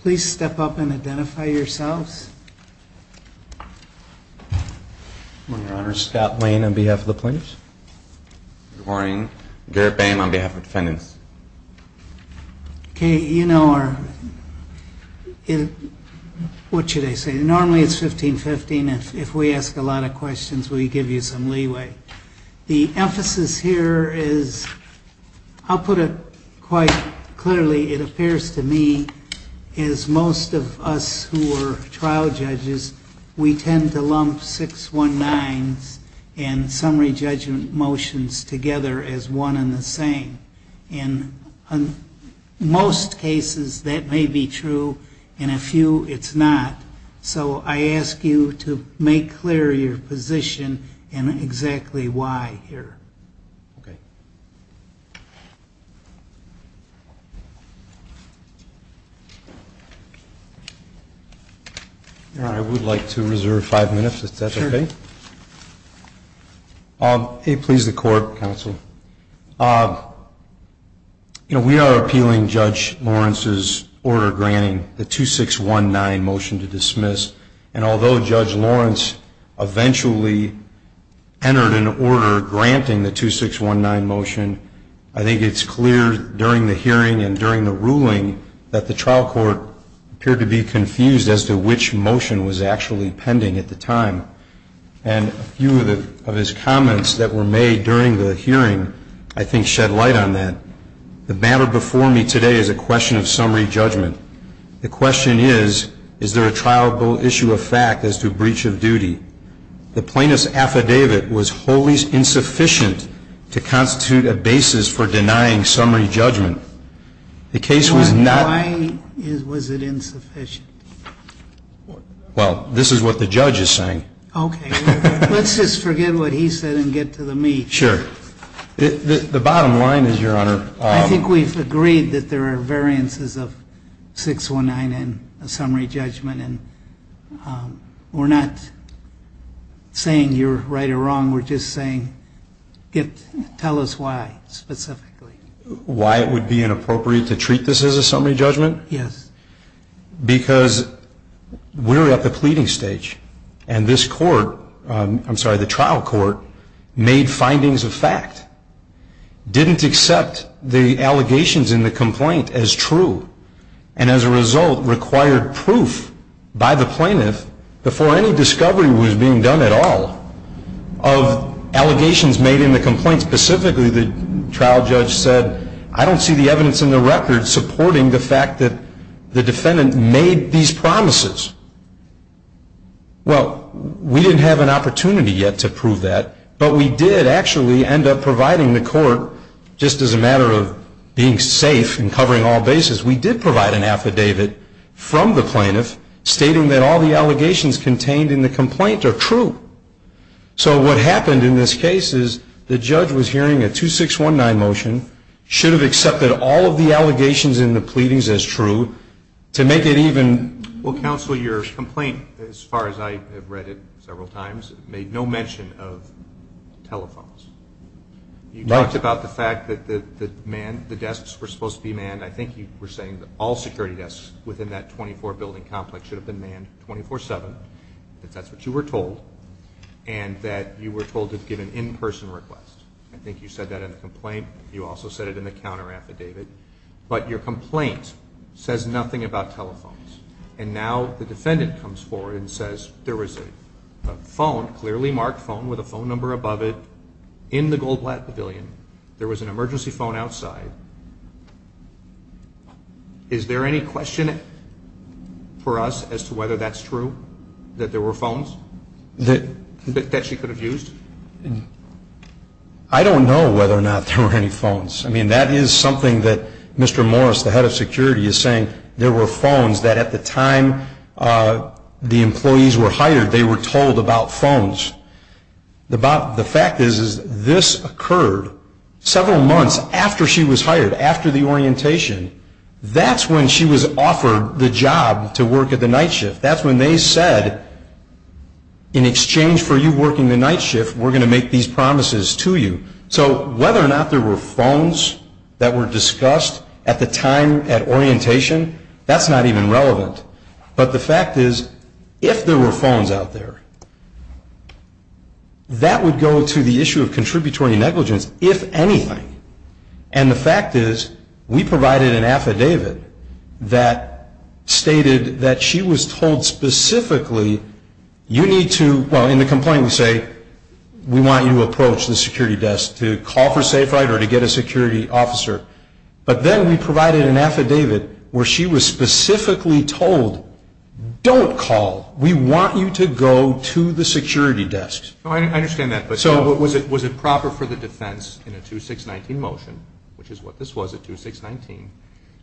Please step up and identify yourselves. Scott Lane on behalf of the plaintiffs. Garrett Bain on behalf of the defendants. Okay, you know our, what should I say? Normally it's 15-15. If we ask a lot of questions, we give you some leeway. The emphasis here is, I'll put it quite clearly, it appears to me as most of us who are trial judges, we tend to lump 619s and summary judgment motions together as one and the same. In most cases, that may be true. In a few, it's not. So I ask you to make clear your position and exactly why here. Okay. I would like to reserve five minutes, if that's okay. Sure. Please, the court, counsel. You know, we are appealing Judge Lawrence's order granting the 2619 motion to dismiss. And although Judge Lawrence eventually entered an order granting the 2619 motion, I think it's clear during the hearing and during the ruling that the trial court appeared to be confused as to which motion was actually pending at the time. And a few of his comments that were made during the hearing I think shed light on that. The matter before me today is a question of summary judgment. The question is, is there a trial issue of fact as to breach of duty? The plaintiff's affidavit was wholly insufficient to constitute a basis for denying summary judgment. The case was not Why was it insufficient? Well, this is what the judge is saying. Okay. Let's just forget what he said and get to the meat. Sure. The bottom line is, Your Honor. I think we've agreed that there are variances of 619 and a summary judgment. And we're not saying you're right or wrong. We're just saying tell us why specifically. Why it would be inappropriate to treat this as a summary judgment? Yes. Because we're at the pleading stage. And this court, I'm sorry, the trial court, made findings of fact, didn't accept the allegations in the complaint as true, and as a result required proof by the plaintiff before any discovery was being done at all of allegations made in the complaint. Specifically, the trial judge said, I don't see the evidence in the record supporting the fact that the defendant made these promises. Well, we didn't have an opportunity yet to prove that, but we did actually end up providing the court, just as a matter of being safe and covering all bases, we did provide an affidavit from the plaintiff stating that all the allegations contained in the complaint are true. So what happened in this case is the judge was hearing a 2619 motion, should have accepted all of the allegations in the pleadings as true, to make it even. Well, counsel, your complaint, as far as I have read it several times, made no mention of telephones. You talked about the fact that the desks were supposed to be manned. I think you were saying that all security desks within that 24-building complex should have been manned 24-7, if that's what you were told, and that you were told to give an in-person request. I think you said that in the complaint. You also said it in the counter affidavit. But your complaint says nothing about telephones. And now the defendant comes forward and says there was a phone, clearly marked phone, with a phone number above it, in the Goldblatt Pavilion. There was an emergency phone outside. Is there any question for us as to whether that's true, that there were phones that she could have used? I don't know whether or not there were any phones. I mean, that is something that Mr. Morris, the head of security, is saying. There were phones that at the time the employees were hired, they were told about phones. The fact is this occurred several months after she was hired, after the orientation. That's when she was offered the job to work at the night shift. That's when they said, in exchange for you working the night shift, we're going to make these promises to you. So whether or not there were phones that were discussed at the time, at orientation, that's not even relevant. But the fact is, if there were phones out there, that would go to the issue of contributory negligence, if anything. And the fact is, we provided an affidavit that stated that she was told specifically, you need to, well, in the complaint we say, we want you to approach the security desk to call for safe ride or to get a security officer. But then we provided an affidavit where she was specifically told, don't call. We want you to go to the security desk. I understand that. But was it proper for the defense in a 2619 motion, which is what this was at 2619,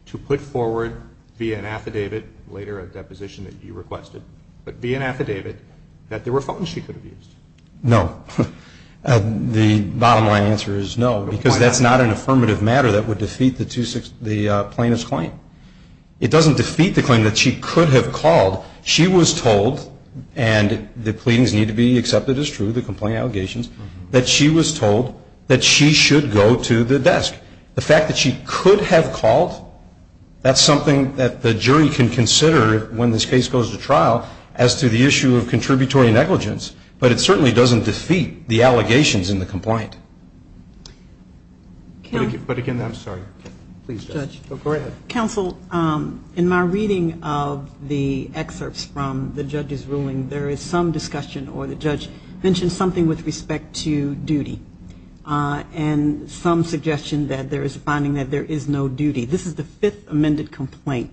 to put forward via an affidavit later, a deposition that you requested, but via an affidavit, that there were phones she could have used? No. The bottom line answer is no, because that's not an affirmative matter that would defeat the plaintiff's claim. It doesn't defeat the claim that she could have called. She was told, and the pleadings need to be accepted as true, the complaint allegations, that she was told that she should go to the desk. The fact that she could have called, that's something that the jury can consider when this case goes to trial as to the issue of contributory negligence. But it certainly doesn't defeat the allegations in the complaint. But again, I'm sorry. Please, Judge. Go ahead. Counsel, in my reading of the excerpts from the judge's ruling, there is some discussion or the judge mentioned something with respect to duty and some suggestion that there is a finding that there is no duty. This is the fifth amended complaint.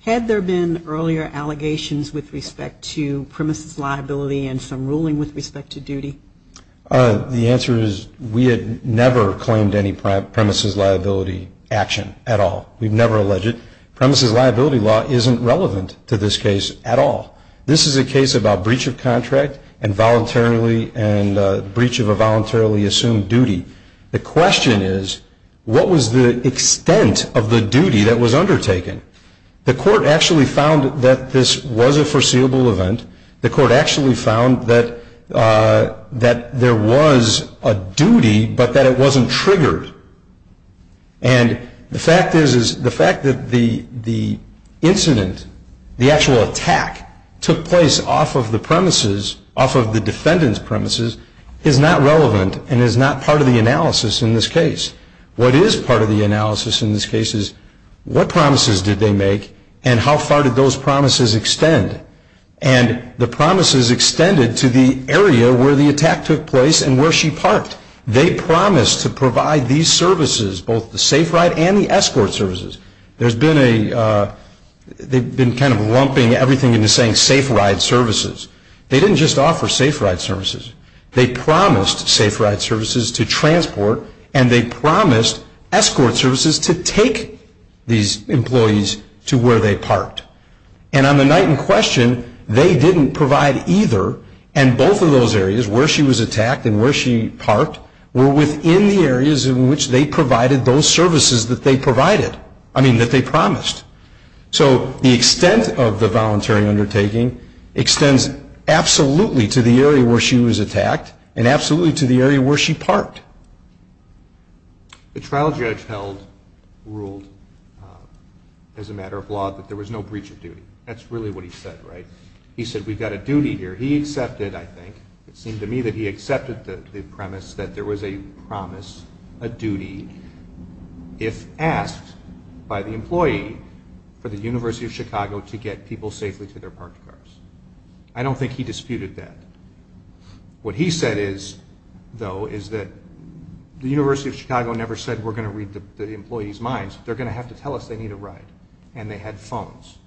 Had there been earlier allegations with respect to premises liability and some ruling with respect to duty? The answer is we had never claimed any premises liability action at all. We've never alleged it. Premises liability law isn't relevant to this case at all. This is a case about breach of contract and breach of a voluntarily assumed duty. The question is what was the extent of the duty that was undertaken? The court actually found that this was a foreseeable event. The court actually found that there was a duty, but that it wasn't triggered. And the fact is the fact that the incident, the actual attack, took place off of the premises, off of the defendant's premises, is not relevant and is not part of the analysis in this case. What is part of the analysis in this case is what promises did they make and how far did those promises extend? And the promises extended to the area where the attack took place and where she parked. They promised to provide these services, both the safe ride and the escort services. They've been kind of lumping everything into saying safe ride services. They didn't just offer safe ride services. They promised safe ride services to transport and they promised escort services to take these employees to where they parked. And on the night in question, they didn't provide either, and both of those areas where she was attacked and where she parked were within the areas in which they provided those services that they provided, I mean that they promised. So the extent of the voluntary undertaking extends absolutely to the area where she was attacked and absolutely to the area where she parked. The trial judge held, ruled, as a matter of law, that there was no breach of duty. That's really what he said, right? He said we've got a duty here. He accepted, I think, it seemed to me that he accepted the premise that there was a promise, a duty, if asked by the employee for the University of Chicago to get people safely to their parked cars. I don't think he disputed that. What he said, though, is that the University of Chicago never said we're going to read the employees' minds. They're going to have to tell us they need a ride. And they had phones.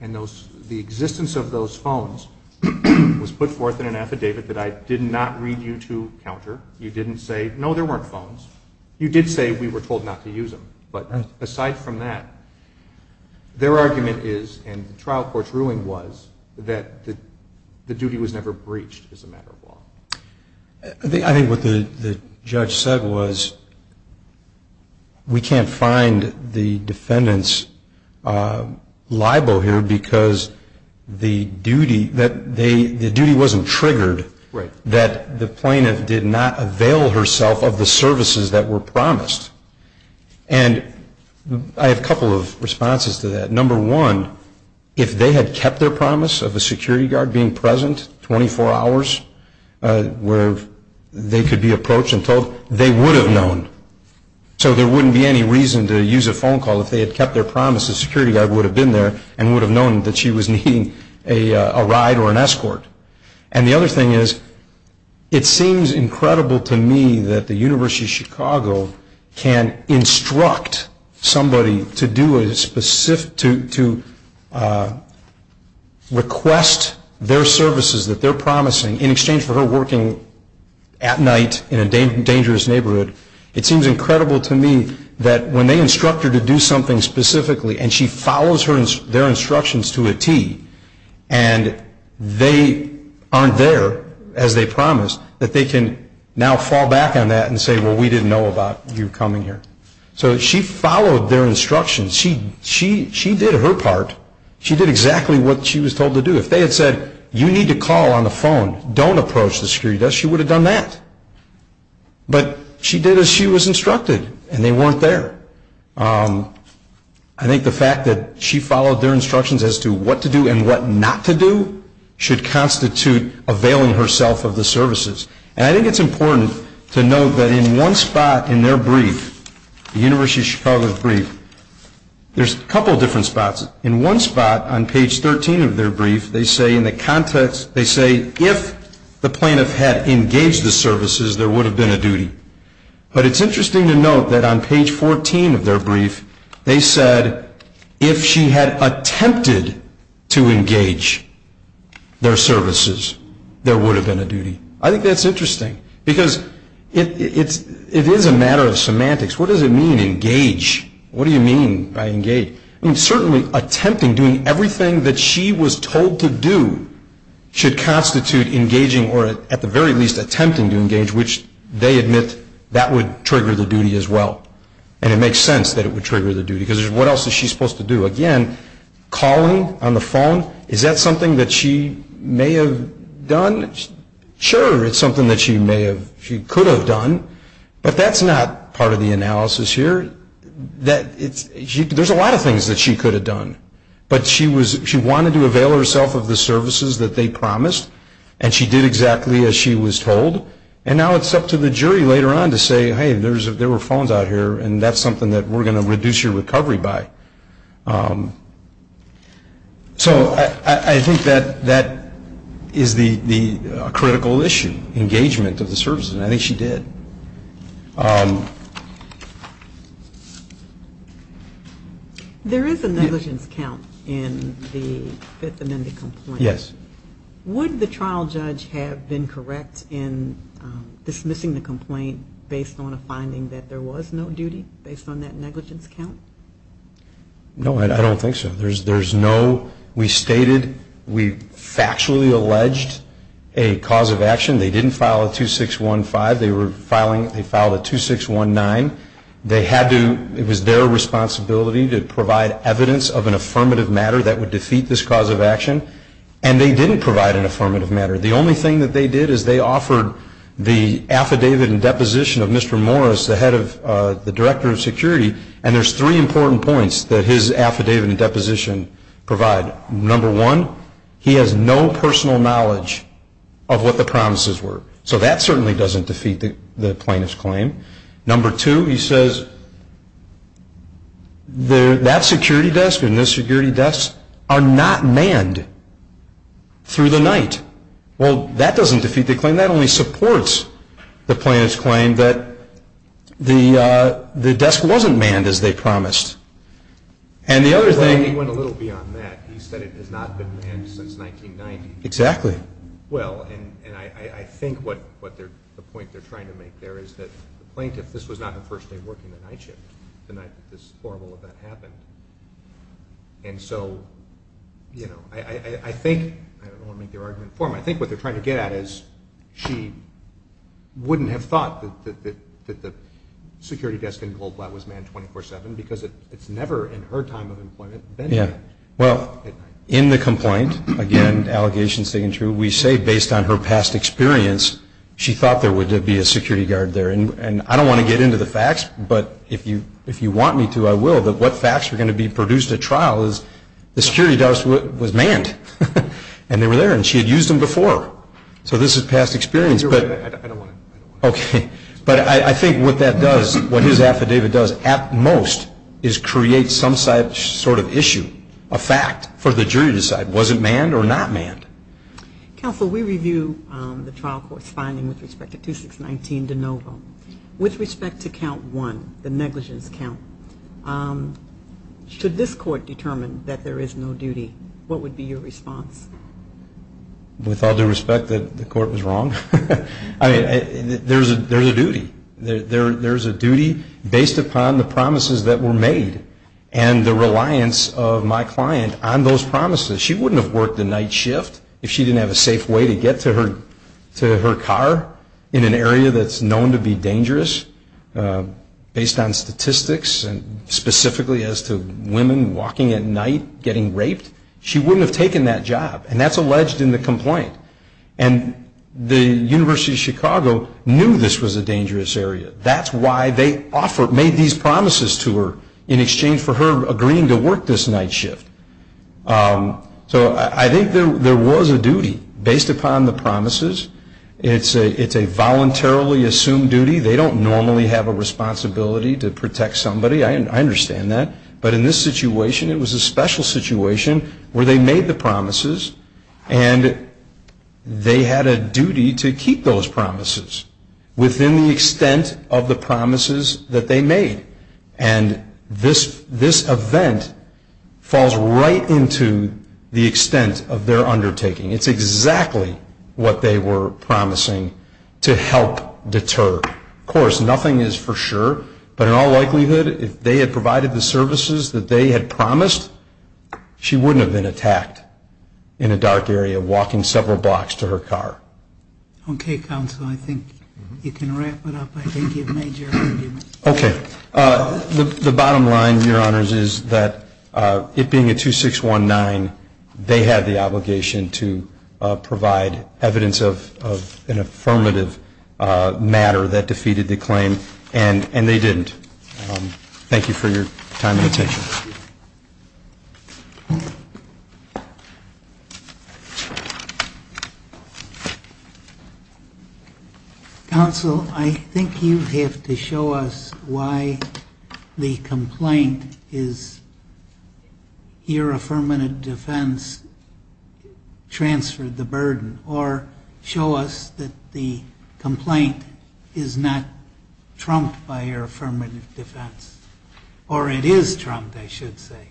And the existence of those phones was put forth in an affidavit that I did not read you to counter. You didn't say, no, there weren't phones. You did say we were told not to use them. But aside from that, their argument is, and the trial court's ruling was, that the duty was never breached as a matter of law. I think what the judge said was we can't find the defendant's libel here because the duty wasn't triggered, that the plaintiff did not avail herself of the services that were promised. And I have a couple of responses to that. Number one, if they had kept their promise of a security guard being present 24 hours where they could be approached and told, they would have known. So there wouldn't be any reason to use a phone call. If they had kept their promise, the security guard would have been there and would have known that she was needing a ride or an escort. And the other thing is, it seems incredible to me that the University of Chicago can instruct somebody to request their services that they're promising in exchange for her working at night in a dangerous neighborhood. It seems incredible to me that when they instruct her to do something specifically and she follows their instructions to a T and they aren't there as they promised, that they can now fall back on that and say, well, we didn't know about you coming here. So she followed their instructions. She did her part. She did exactly what she was told to do. If they had said, you need to call on the phone, don't approach the security desk, she would have done that. But she did as she was instructed, and they weren't there. I think the fact that she followed their instructions as to what to do and what not to do should constitute availing herself of the services. And I think it's important to note that in one spot in their brief, the University of Chicago's brief, there's a couple different spots. In one spot on page 13 of their brief, they say in the context, they say if the plaintiff had engaged the services, there would have been a duty. But it's interesting to note that on page 14 of their brief, they said if she had attempted to engage their services, there would have been a duty. I think that's interesting because it is a matter of semantics. What does it mean, engage? What do you mean by engage? Certainly attempting, doing everything that she was told to do, should constitute engaging or at the very least attempting to engage, which they admit that would trigger the duty as well. And it makes sense that it would trigger the duty because what else is she supposed to do? Again, calling on the phone, is that something that she may have done? Sure, it's something that she could have done, but that's not part of the analysis here. There's a lot of things that she could have done, but she wanted to avail herself of the services that they promised, and she did exactly as she was told. And now it's up to the jury later on to say, hey, there were phones out here, and that's something that we're going to reduce your recovery by. So I think that that is a critical issue, engagement of the services, and I think she did. There is a negligence count in the Fifth Amendment complaint. Yes. Would the trial judge have been correct in dismissing the complaint based on a finding that there was no duty based on that negligence count? No, I don't think so. There's no, we stated, we factually alleged a cause of action. They didn't file a 2615. They were filing, they filed a 2619. They had to, it was their responsibility to provide evidence of an affirmative matter that would defeat this cause of action, and they didn't provide an affirmative matter. The only thing that they did is they offered the affidavit and deposition of Mr. Morris, the director of security, and there's three important points that his affidavit and deposition provide. Number one, he has no personal knowledge of what the promises were. So that certainly doesn't defeat the plaintiff's claim. Number two, he says that security desk and this security desk are not manned through the night. Well, that doesn't defeat the claim. And that only supports the plaintiff's claim that the desk wasn't manned as they promised. And the other thing. Well, he went a little beyond that. He said it has not been manned since 1990. Exactly. Well, and I think what the point they're trying to make there is that the plaintiff, this was not the first day of working the night shift, the night that this horrible event happened. And so, you know, I think, I don't want to make their argument informal, but I think what they're trying to get at is she wouldn't have thought that the security desk in Goldblatt was manned 24-7 because it's never in her time of employment been at night. Yeah. Well, in the complaint, again, allegations taken true, we say based on her past experience, she thought there would be a security guard there. And I don't want to get into the facts, but if you want me to, I will, that what facts are going to be produced at trial is the security desk was manned, and they were there, and she had used them before. So this is past experience. I don't want to. Okay. But I think what that does, what his affidavit does at most is create some sort of issue, a fact for the jury to decide, was it manned or not manned? Counsel, we review the trial court's finding with respect to 2619 de novo. With respect to count one, the negligence count, should this court determine that there is no duty, what would be your response? With all due respect, the court was wrong. I mean, there's a duty. There's a duty based upon the promises that were made and the reliance of my client on those promises. She wouldn't have worked a night shift if she didn't have a safe way to get to her car in an area that's known to be dangerous based on statistics and specifically as to women walking at night getting raped. She wouldn't have taken that job, and that's alleged in the complaint. And the University of Chicago knew this was a dangerous area. That's why they made these promises to her in exchange for her agreeing to work this night shift. So I think there was a duty based upon the promises. It's a voluntarily assumed duty. They don't normally have a responsibility to protect somebody. I understand that. But in this situation, it was a special situation where they made the promises and they had a duty to keep those promises within the extent of the promises that they made. And this event falls right into the extent of their undertaking. It's exactly what they were promising to help deter. Of course, nothing is for sure. But in all likelihood, if they had provided the services that they had promised, she wouldn't have been attacked in a dark area walking several blocks to her car. Okay, counsel. I think you can wrap it up. I think you've made your argument. Okay. The bottom line, Your Honors, is that it being a 2619, they had the obligation to provide evidence of an affirmative matter that defeated the claim. And they didn't. Thank you for your time and attention. Counsel, I think you have to show us why the complaint is your affirmative defense transferred the burden or show us that the complaint is not trumped by your affirmative defense. Or it is trumped, I should say.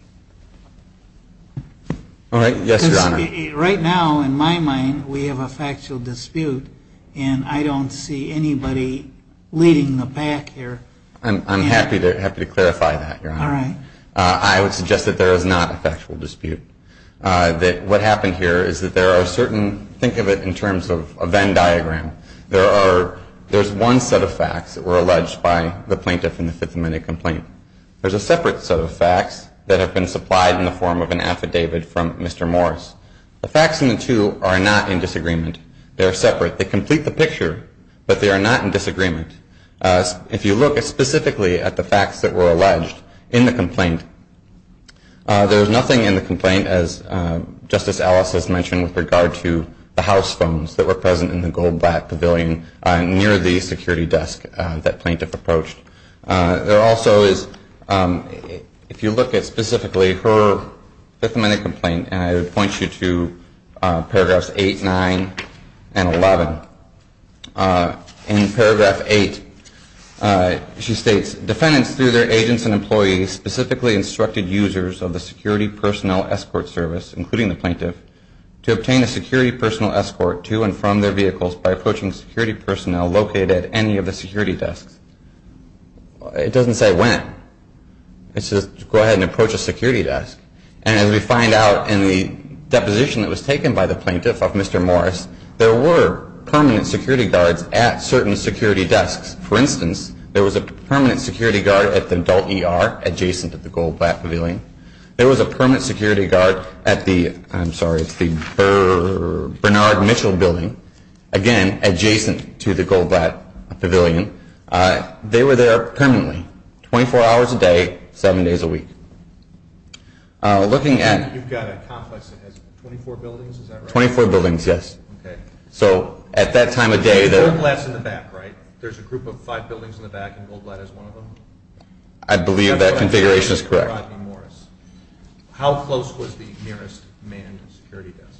All right. Yes, Your Honor. Because right now, in my mind, we have a factual dispute and I don't see anybody leading the pack here. I'm happy to clarify that, Your Honor. All right. I would suggest that there is not a factual dispute. What happened here is that there are certain, think of it in terms of a Venn diagram, there's one set of facts that were alleged by the plaintiff in the Fifth Amendment complaint. There's a separate set of facts that have been supplied in the form of an affidavit from Mr. Morris. The facts in the two are not in disagreement. They are separate. They complete the picture, but they are not in disagreement. If you look specifically at the facts that were alleged in the complaint, there is nothing in the complaint, as Justice Ellis has mentioned, with regard to the house phones that were present in the gold black pavilion near the security desk that plaintiff approached. There also is, if you look at specifically her Fifth Amendment complaint, and I would point you to paragraphs 8, 9, and 11. In paragraph 8, she states, defendants through their agents and employees specifically instructed users of the security personnel escort service, including the plaintiff, to obtain a security personnel escort to and from their vehicles by approaching security personnel located at any of the security desks. It doesn't say when. It says go ahead and approach a security desk. And as we find out in the deposition that was taken by the plaintiff of Mr. Morris, there were permanent security guards at certain security desks. For instance, there was a permanent security guard at the adult ER adjacent to the gold black pavilion. There was a permanent security guard at the Bernard Mitchell building, again, adjacent to the gold black pavilion. They were there permanently, 24 hours a day, 7 days a week. You've got a complex that has 24 buildings, is that right? 24 buildings, yes. So at that time of day, there's a group of five buildings in the back and gold black is one of them? I believe that configuration is correct. How close was the nearest manned security desk?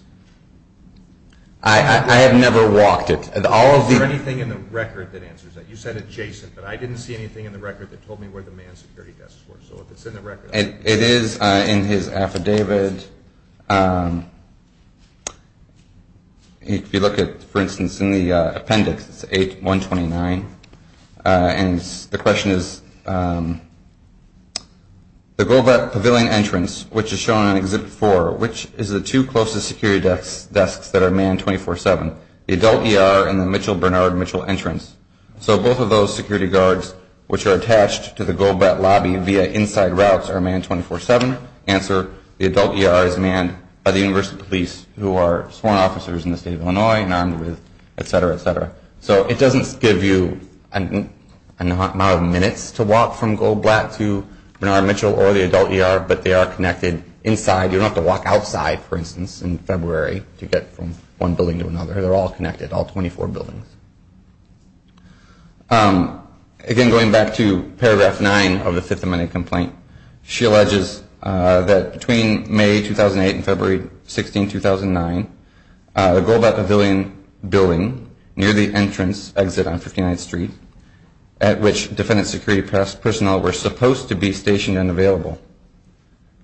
I have never walked it. Is there anything in the record that answers that? You said adjacent, but I didn't see anything in the record that told me where the manned security desks were. So if it's in the record. It is in his affidavit. If you look at, for instance, in the appendix, it's 8-129. And the question is, the gold black pavilion entrance, which is shown in Exhibit 4, which is the two closest security desks that are manned 24-7? The adult ER and the Mitchell-Bernard-Mitchell entrance. So both of those security guards, which are attached to the gold black lobby via inside routes, are manned 24-7? Answer, the adult ER is manned by the University Police, who are sworn officers in the state of Illinois and armed with, etc., etc. So it doesn't give you an amount of minutes to walk from gold black to Bernard-Mitchell or the adult ER, but they are connected inside. You don't have to walk outside, for instance, in February to get from one building to another. They're all connected, all 24 buildings. Again, going back to paragraph 9 of the Fifth Amendment complaint, she alleges that between May 2008 and February 16, 2009, the gold black pavilion building near the entrance exit on 59th Street, at which defendant security personnel were supposed to be stationed and available.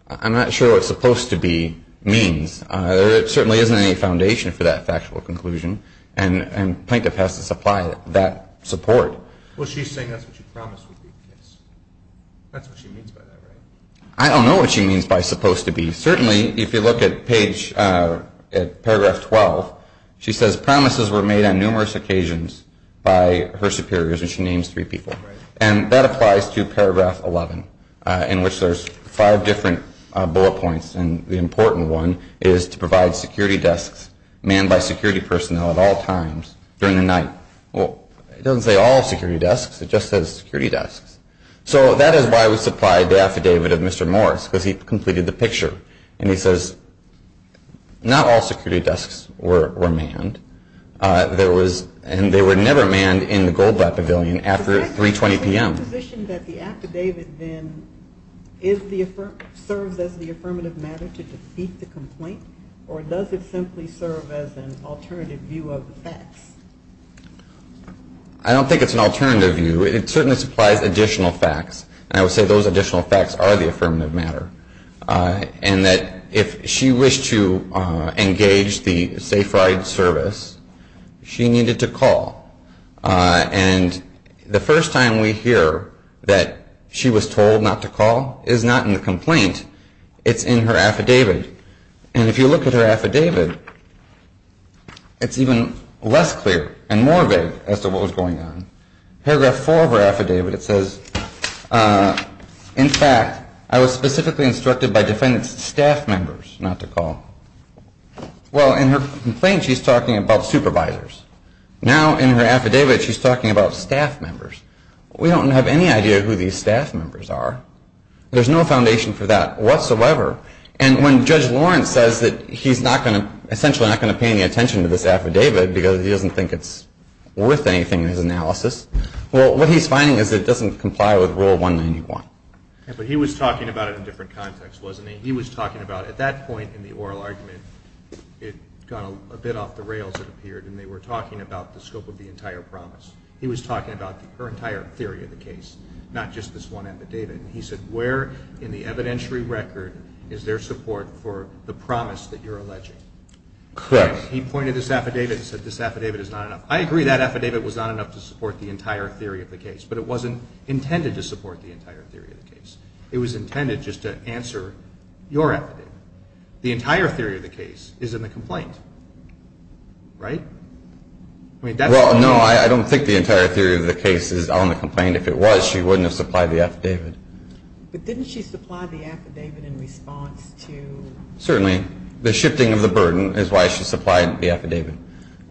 I'm not sure what supposed to be means. There certainly isn't any foundation for that factual conclusion. And plaintiff has to supply that support. Well, she's saying that's what she promised would be the case. That's what she means by that, right? I don't know what she means by supposed to be. Certainly, if you look at paragraph 12, she says promises were made on numerous occasions by her superiors, and she names three people. And that applies to paragraph 11, in which there's five different bullet points, and the important one is to provide security desks manned by security personnel at all times during the night. Well, it doesn't say all security desks. It just says security desks. So that is why we supplied the affidavit of Mr. Morris, because he completed the picture. And he says not all security desks were manned, and they were never manned in the gold black pavilion after 3.20 p.m. Is the position that the affidavit then serves as the affirmative matter to defeat the complaint, or does it simply serve as an alternative view of the facts? I don't think it's an alternative view. It certainly supplies additional facts, and I would say those additional facts are the affirmative matter, and that if she wished to engage the Safe Ride service, she needed to call. And the first time we hear that she was told not to call is not in the complaint. It's in her affidavit. And if you look at her affidavit, it's even less clear and more vague as to what was going on. Paragraph four of her affidavit, it says, in fact, I was specifically instructed by defendant's staff members not to call. Well, in her complaint, she's talking about supervisors. Now, in her affidavit, she's talking about staff members. We don't have any idea who these staff members are. There's no foundation for that whatsoever. And when Judge Lawrence says that he's not going to essentially not pay any attention to this affidavit because he doesn't think it's worth anything in his analysis, well, what he's finding is it doesn't comply with Rule 191. But he was talking about it in a different context, wasn't he? He was talking about at that point in the oral argument, it got a bit off the rails, it appeared, and they were talking about the scope of the entire promise. He was talking about her entire theory of the case, not just this one affidavit. And he said where in the evidentiary record is there support for the promise that you're alleging? He pointed to this affidavit and said this affidavit is not enough. I agree that affidavit was not enough to support the entire theory of the case, but it wasn't intended to support the entire theory of the case. It was intended just to answer your affidavit. The entire theory of the case is in the complaint, right? Well, no, I don't think the entire theory of the case is on the complaint. If it was, she wouldn't have supplied the affidavit. But didn't she supply the affidavit in response to? Certainly. The shifting of the burden is why she supplied the affidavit.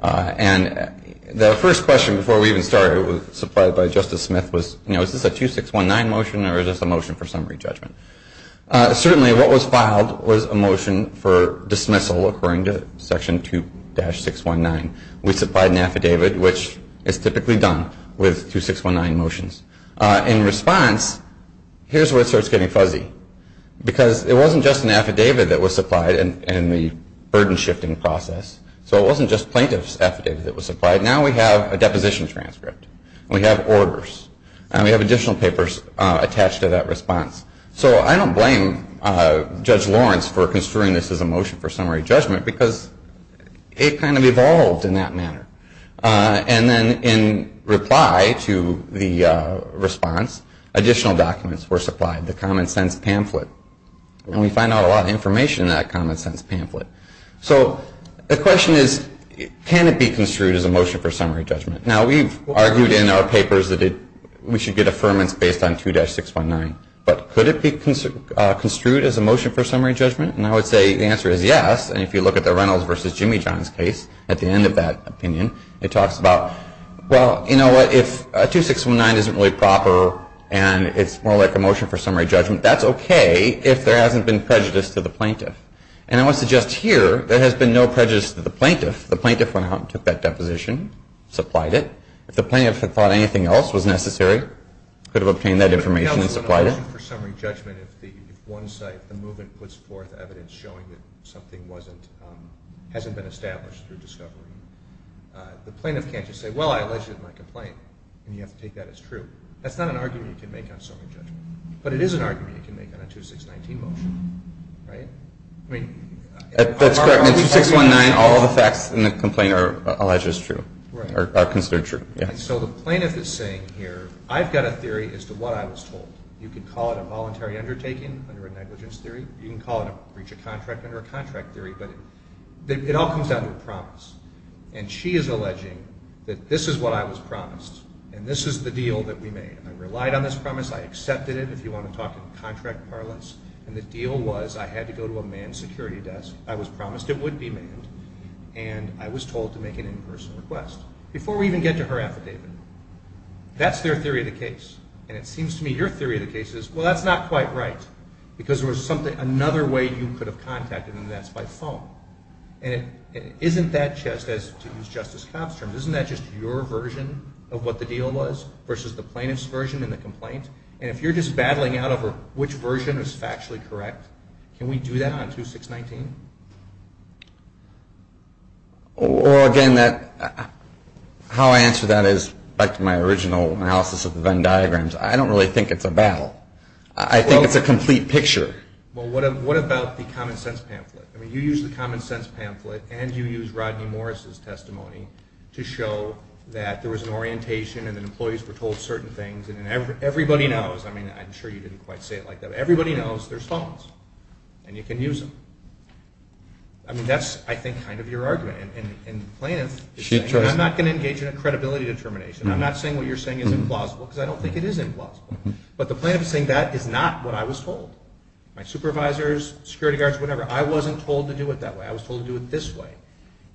And the first question before we even started was supplied by Justice Smith was, you know, is this a 2619 motion or is this a motion for summary judgment? Certainly what was filed was a motion for dismissal according to Section 2-619. We supplied an affidavit, which is typically done with 2619 motions. In response, here's where it starts getting fuzzy. Because it wasn't just an affidavit that was supplied in the burden shifting process. So it wasn't just plaintiff's affidavit that was supplied. Now we have a deposition transcript. We have orders. And we have additional papers attached to that response. So I don't blame Judge Lawrence for construing this as a motion for summary judgment because it kind of evolved in that manner. And then in reply to the response, additional documents were supplied, the common sense pamphlet. And we find out a lot of information in that common sense pamphlet. So the question is, can it be construed as a motion for summary judgment? Now we've argued in our papers that we should get affirmance based on 2-619. But could it be construed as a motion for summary judgment? And I would say the answer is yes. And if you look at the Reynolds versus Jimmy Johns case, at the end of that opinion, it talks about, well, you know what, if 2619 isn't really proper and it's more like a motion for summary judgment, that's okay if there hasn't been prejudice to the plaintiff. And I would suggest here there has been no prejudice to the plaintiff. The plaintiff went out and took that deposition, supplied it. If the plaintiff had thought anything else was necessary, could have obtained that information and supplied it. It would be a motion for summary judgment if one side of the movement puts forth evidence showing that something hasn't been established through discovery. The plaintiff can't just say, well, I alleged it in my complaint, and you have to take that as true. That's not an argument you can make on summary judgment. But it is an argument you can make on a 2-619 motion, right? That's correct. In 2-619, all the facts in the complaint are alleged as true, are considered true, yes. And so the plaintiff is saying here, I've got a theory as to what I was told. You can call it a voluntary undertaking under a negligence theory. You can call it a breach of contract under a contract theory. But it all comes down to a promise. And she is alleging that this is what I was promised, and this is the deal that we made. I relied on this promise. I accepted it, if you want to talk in contract parlance. And the deal was I had to go to a manned security desk. I was promised it would be manned. And I was told to make an in-person request. Before we even get to her affidavit. That's their theory of the case. And it seems to me your theory of the case is, well, that's not quite right. Because there was another way you could have contacted them, and that's by phone. And it isn't that just as to use Justice Cobb's terms. Isn't that just your version of what the deal was versus the plaintiff's version in the complaint? And if you're just battling out over which version is factually correct, can we do that on 2-619? Well, again, how I answer that is, back to my original analysis of the Venn diagrams, I don't really think it's a battle. I think it's a complete picture. Well, what about the common sense pamphlet? I mean, you used the common sense pamphlet and you used Rodney Morris' testimony to show that there was an orientation and that employees were told certain things. And everybody knows, I mean, I'm sure you didn't quite say it like that, but everybody knows there's phones. And you can use them. I mean, that's, I think, kind of your argument. And the plaintiff is saying, I'm not going to engage in a credibility determination. I'm not saying what you're saying is implausible, because I don't think it is implausible. But the plaintiff is saying that is not what I was told. My supervisors, security guards, whatever, I wasn't told to do it that way. I was told to do it this way.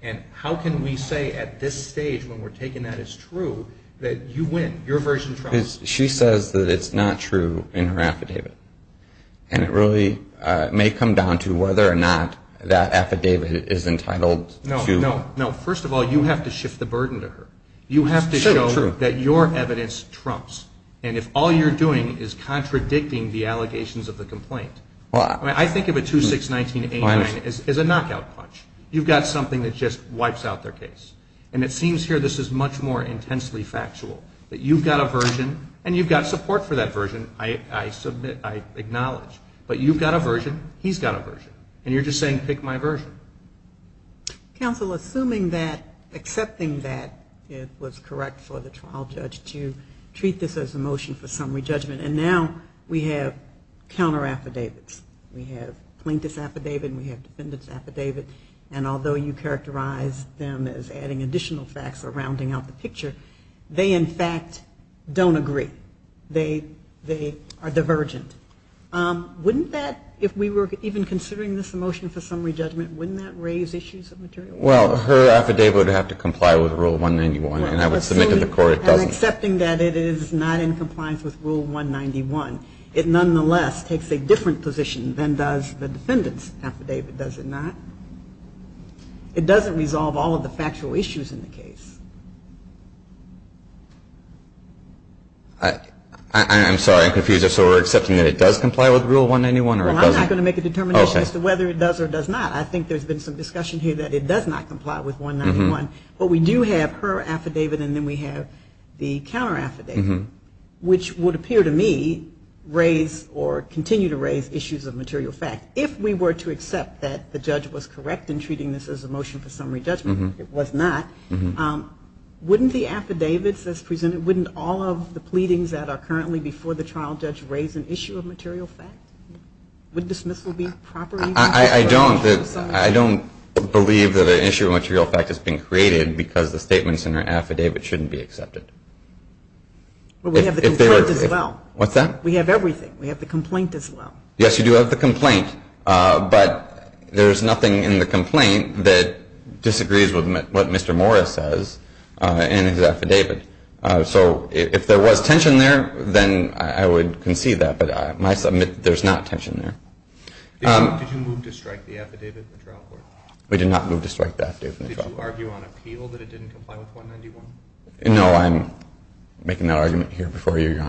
And how can we say at this stage, when we're taking that as true, that you win, your version trusts? She says that it's not true in her affidavit. And it really may come down to whether or not that affidavit is entitled to. No, first of all, you have to shift the burden to her. You have to show that your evidence trumps. And if all you're doing is contradicting the allegations of the complaint. I mean, I think of a 2-6-19-89 as a knockout punch. You've got something that just wipes out their case. And it seems here this is much more intensely factual, that you've got a version and you've got support for that version. I submit, I acknowledge. But you've got a version, he's got a version. And you're just saying pick my version. Counsel, assuming that, accepting that it was correct for the trial judge to treat this as a motion for summary judgment. And now we have counter affidavits. We have plaintiff's affidavit and we have defendant's affidavit. And although you characterize them as adding additional facts or rounding out the picture, they in fact don't agree. They are divergent. Wouldn't that, if we were even considering this a motion for summary judgment, wouldn't that raise issues of material? Well, her affidavit would have to comply with Rule 191. And I would submit to the court it doesn't. And accepting that it is not in compliance with Rule 191, it nonetheless takes a different position than does the defendant's affidavit, does it not? It doesn't resolve all of the factual issues in the case. I'm sorry, I'm confused. So we're accepting that it does comply with Rule 191 or it doesn't? Well, I'm not going to make a determination as to whether it does or does not. I think there's been some discussion here that it does not comply with 191. But we do have her affidavit and then we have the counter affidavit, which would appear to me raise or continue to raise issues of material fact. And if we were to accept that the judge was correct in treating this as a motion for summary judgment, it was not, wouldn't the affidavits as presented, wouldn't all of the pleadings that are currently before the trial judge raise an issue of material fact? Wouldn't dismissal be proper? I don't believe that an issue of material fact has been created because the statements in her affidavit shouldn't be accepted. Well, we have the complaint as well. What's that? We have everything. We have the complaint as well. Yes, you do have the complaint. But there's nothing in the complaint that disagrees with what Mr. Morris says in his affidavit. So if there was tension there, then I would concede that. But I might submit that there's not tension there. Did you move to strike the affidavit at the trial court? We did not move to strike that affidavit. Did you argue on appeal that it didn't comply with 191? No, I'm making that argument here before you, Your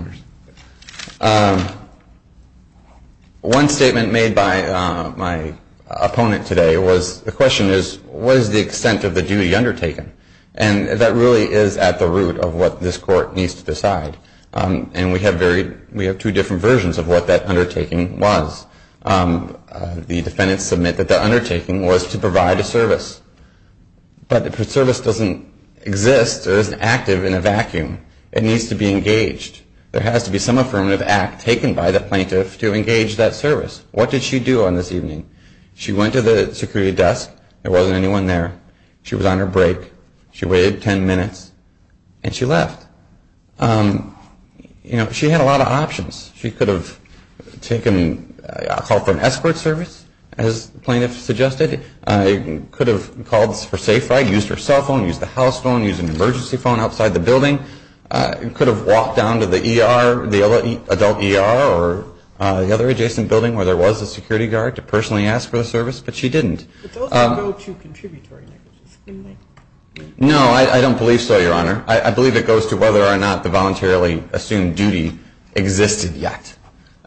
Honors. One statement made by my opponent today was, the question is, what is the extent of the duty undertaken? And that really is at the root of what this court needs to decide. And we have two different versions of what that undertaking was. The defendants submit that the undertaking was to provide a service. But if a service doesn't exist or isn't active in a vacuum, it needs to be engaged. There has to be some affirmative act taken by the plaintiff to engage that service. What did she do on this evening? She went to the security desk. There wasn't anyone there. She was on her break. She waited 10 minutes, and she left. You know, she had a lot of options. She could have taken a call for an escort service, as the plaintiff suggested. She could have called for a safe ride, used her cell phone, used the house phone, used an emergency phone outside the building. She could have walked down to the ER, the adult ER or the other adjacent building where there was a security guard to personally ask for a service. But she didn't. But those don't go to contributory negligence, do they? No, I don't believe so, Your Honor. I believe it goes to whether or not the voluntarily assumed duty existed yet.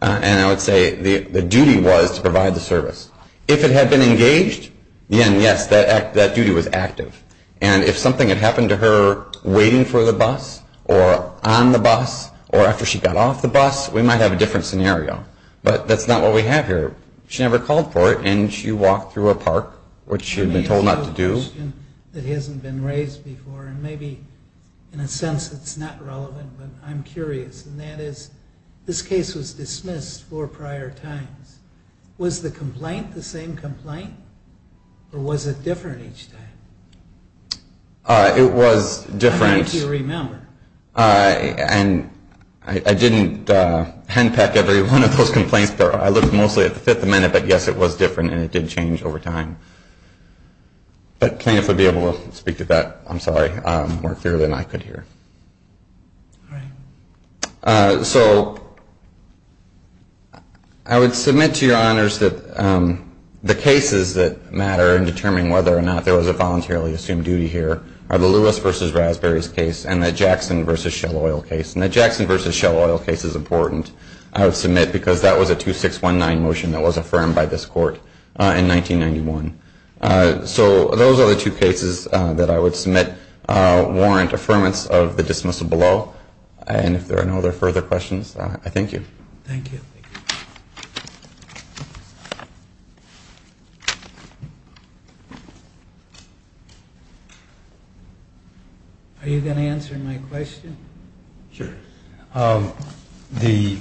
And I would say the duty was to provide the service. If it had been engaged, then, yes, that duty was active. And if something had happened to her waiting for the bus or on the bus or after she got off the bus, we might have a different scenario. But that's not what we have here. She never called for it, and she walked through a park, which she had been told not to do. Let me ask you a question that hasn't been raised before, and maybe in a sense it's not relevant, but I'm curious. And that is, this case was dismissed four prior times. Was the complaint the same complaint, or was it different each time? It was different. How many do you remember? And I didn't handpack every one of those complaints, but I looked mostly at the fifth amendment. But, yes, it was different, and it did change over time. But plaintiffs would be able to speak to that, I'm sorry, more clearly than I could here. All right. So I would submit to your honors that the cases that matter in determining whether or not there was a voluntarily assumed duty here are the Lewis v. Raspberries case and the Jackson v. Shell Oil case. And the Jackson v. Shell Oil case is important. I would submit because that was a 2619 motion that was affirmed by this court in 1991. So those are the two cases that I would submit warrant affirmance of the dismissal below. And if there are no other further questions, I thank you. Thank you. Are you going to answer my question? Sure. The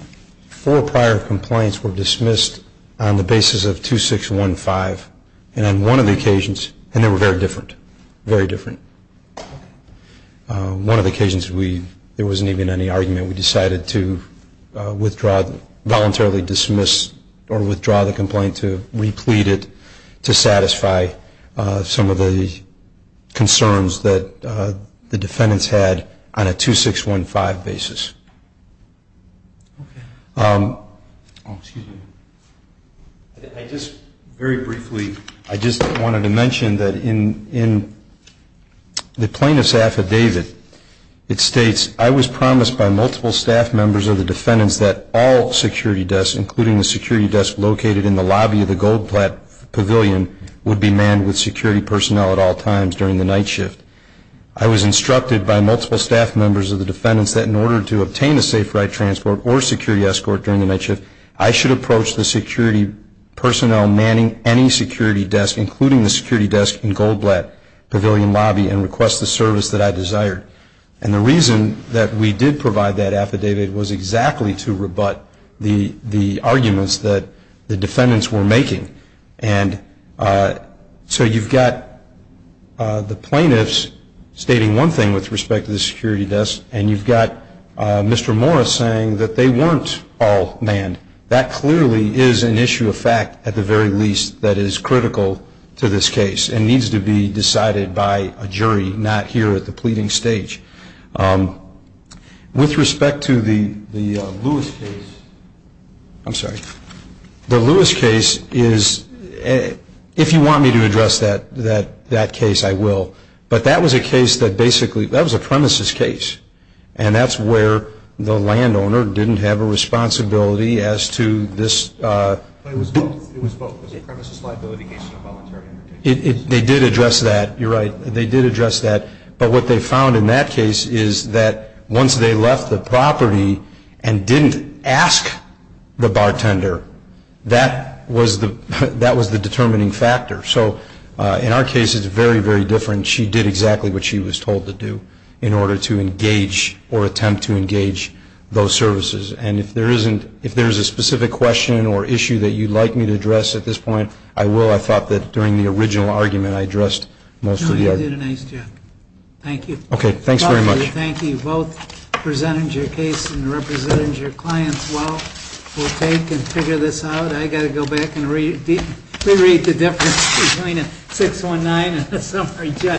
four prior complaints were dismissed on the basis of 2615. And on one of the occasions, and they were very different, very different, one of the occasions there wasn't even any argument. We decided to withdraw, voluntarily dismiss or withdraw the complaint to replete it to satisfy some of the concerns that the defendants had on a 2615 basis. Oh, excuse me. I just very briefly, I just wanted to mention that in the plaintiff's affidavit, it states, I was promised by multiple staff members of the defendants that all security desks, would be manned with security personnel at all times during the night shift. I was instructed by multiple staff members of the defendants that in order to obtain a safe ride transport or security escort during the night shift, I should approach the security personnel manning any security desk, including the security desk in Goldblatt Pavilion Lobby, and request the service that I desired. And the reason that we did provide that affidavit was exactly to rebut the arguments that the defendants were making. And so you've got the plaintiffs stating one thing with respect to the security desk, and you've got Mr. Morris saying that they weren't all manned. That clearly is an issue of fact, at the very least, that is critical to this case and needs to be decided by a jury, not here at the pleading stage. With respect to the Lewis case, I'm sorry. The Lewis case is, if you want me to address that case, I will. But that was a case that basically, that was a premises case. And that's where the landowner didn't have a responsibility as to this. It was both, it was a premises liability case and a voluntary case. They did address that, you're right, they did address that. But what they found in that case is that once they left the property and didn't ask the bartender, that was the determining factor. So in our case, it's very, very different. She did exactly what she was told to do in order to engage or attempt to engage those services. And if there is a specific question or issue that you'd like me to address at this point, I will. I thought that during the original argument, I addressed most of the arguments. No, you did a nice job. Thank you. Okay, thanks very much. Thank you. Both presented your case and represented your clients well. We'll take and figure this out. I've got to go back and re-read the difference between a 619 and a summary judgment.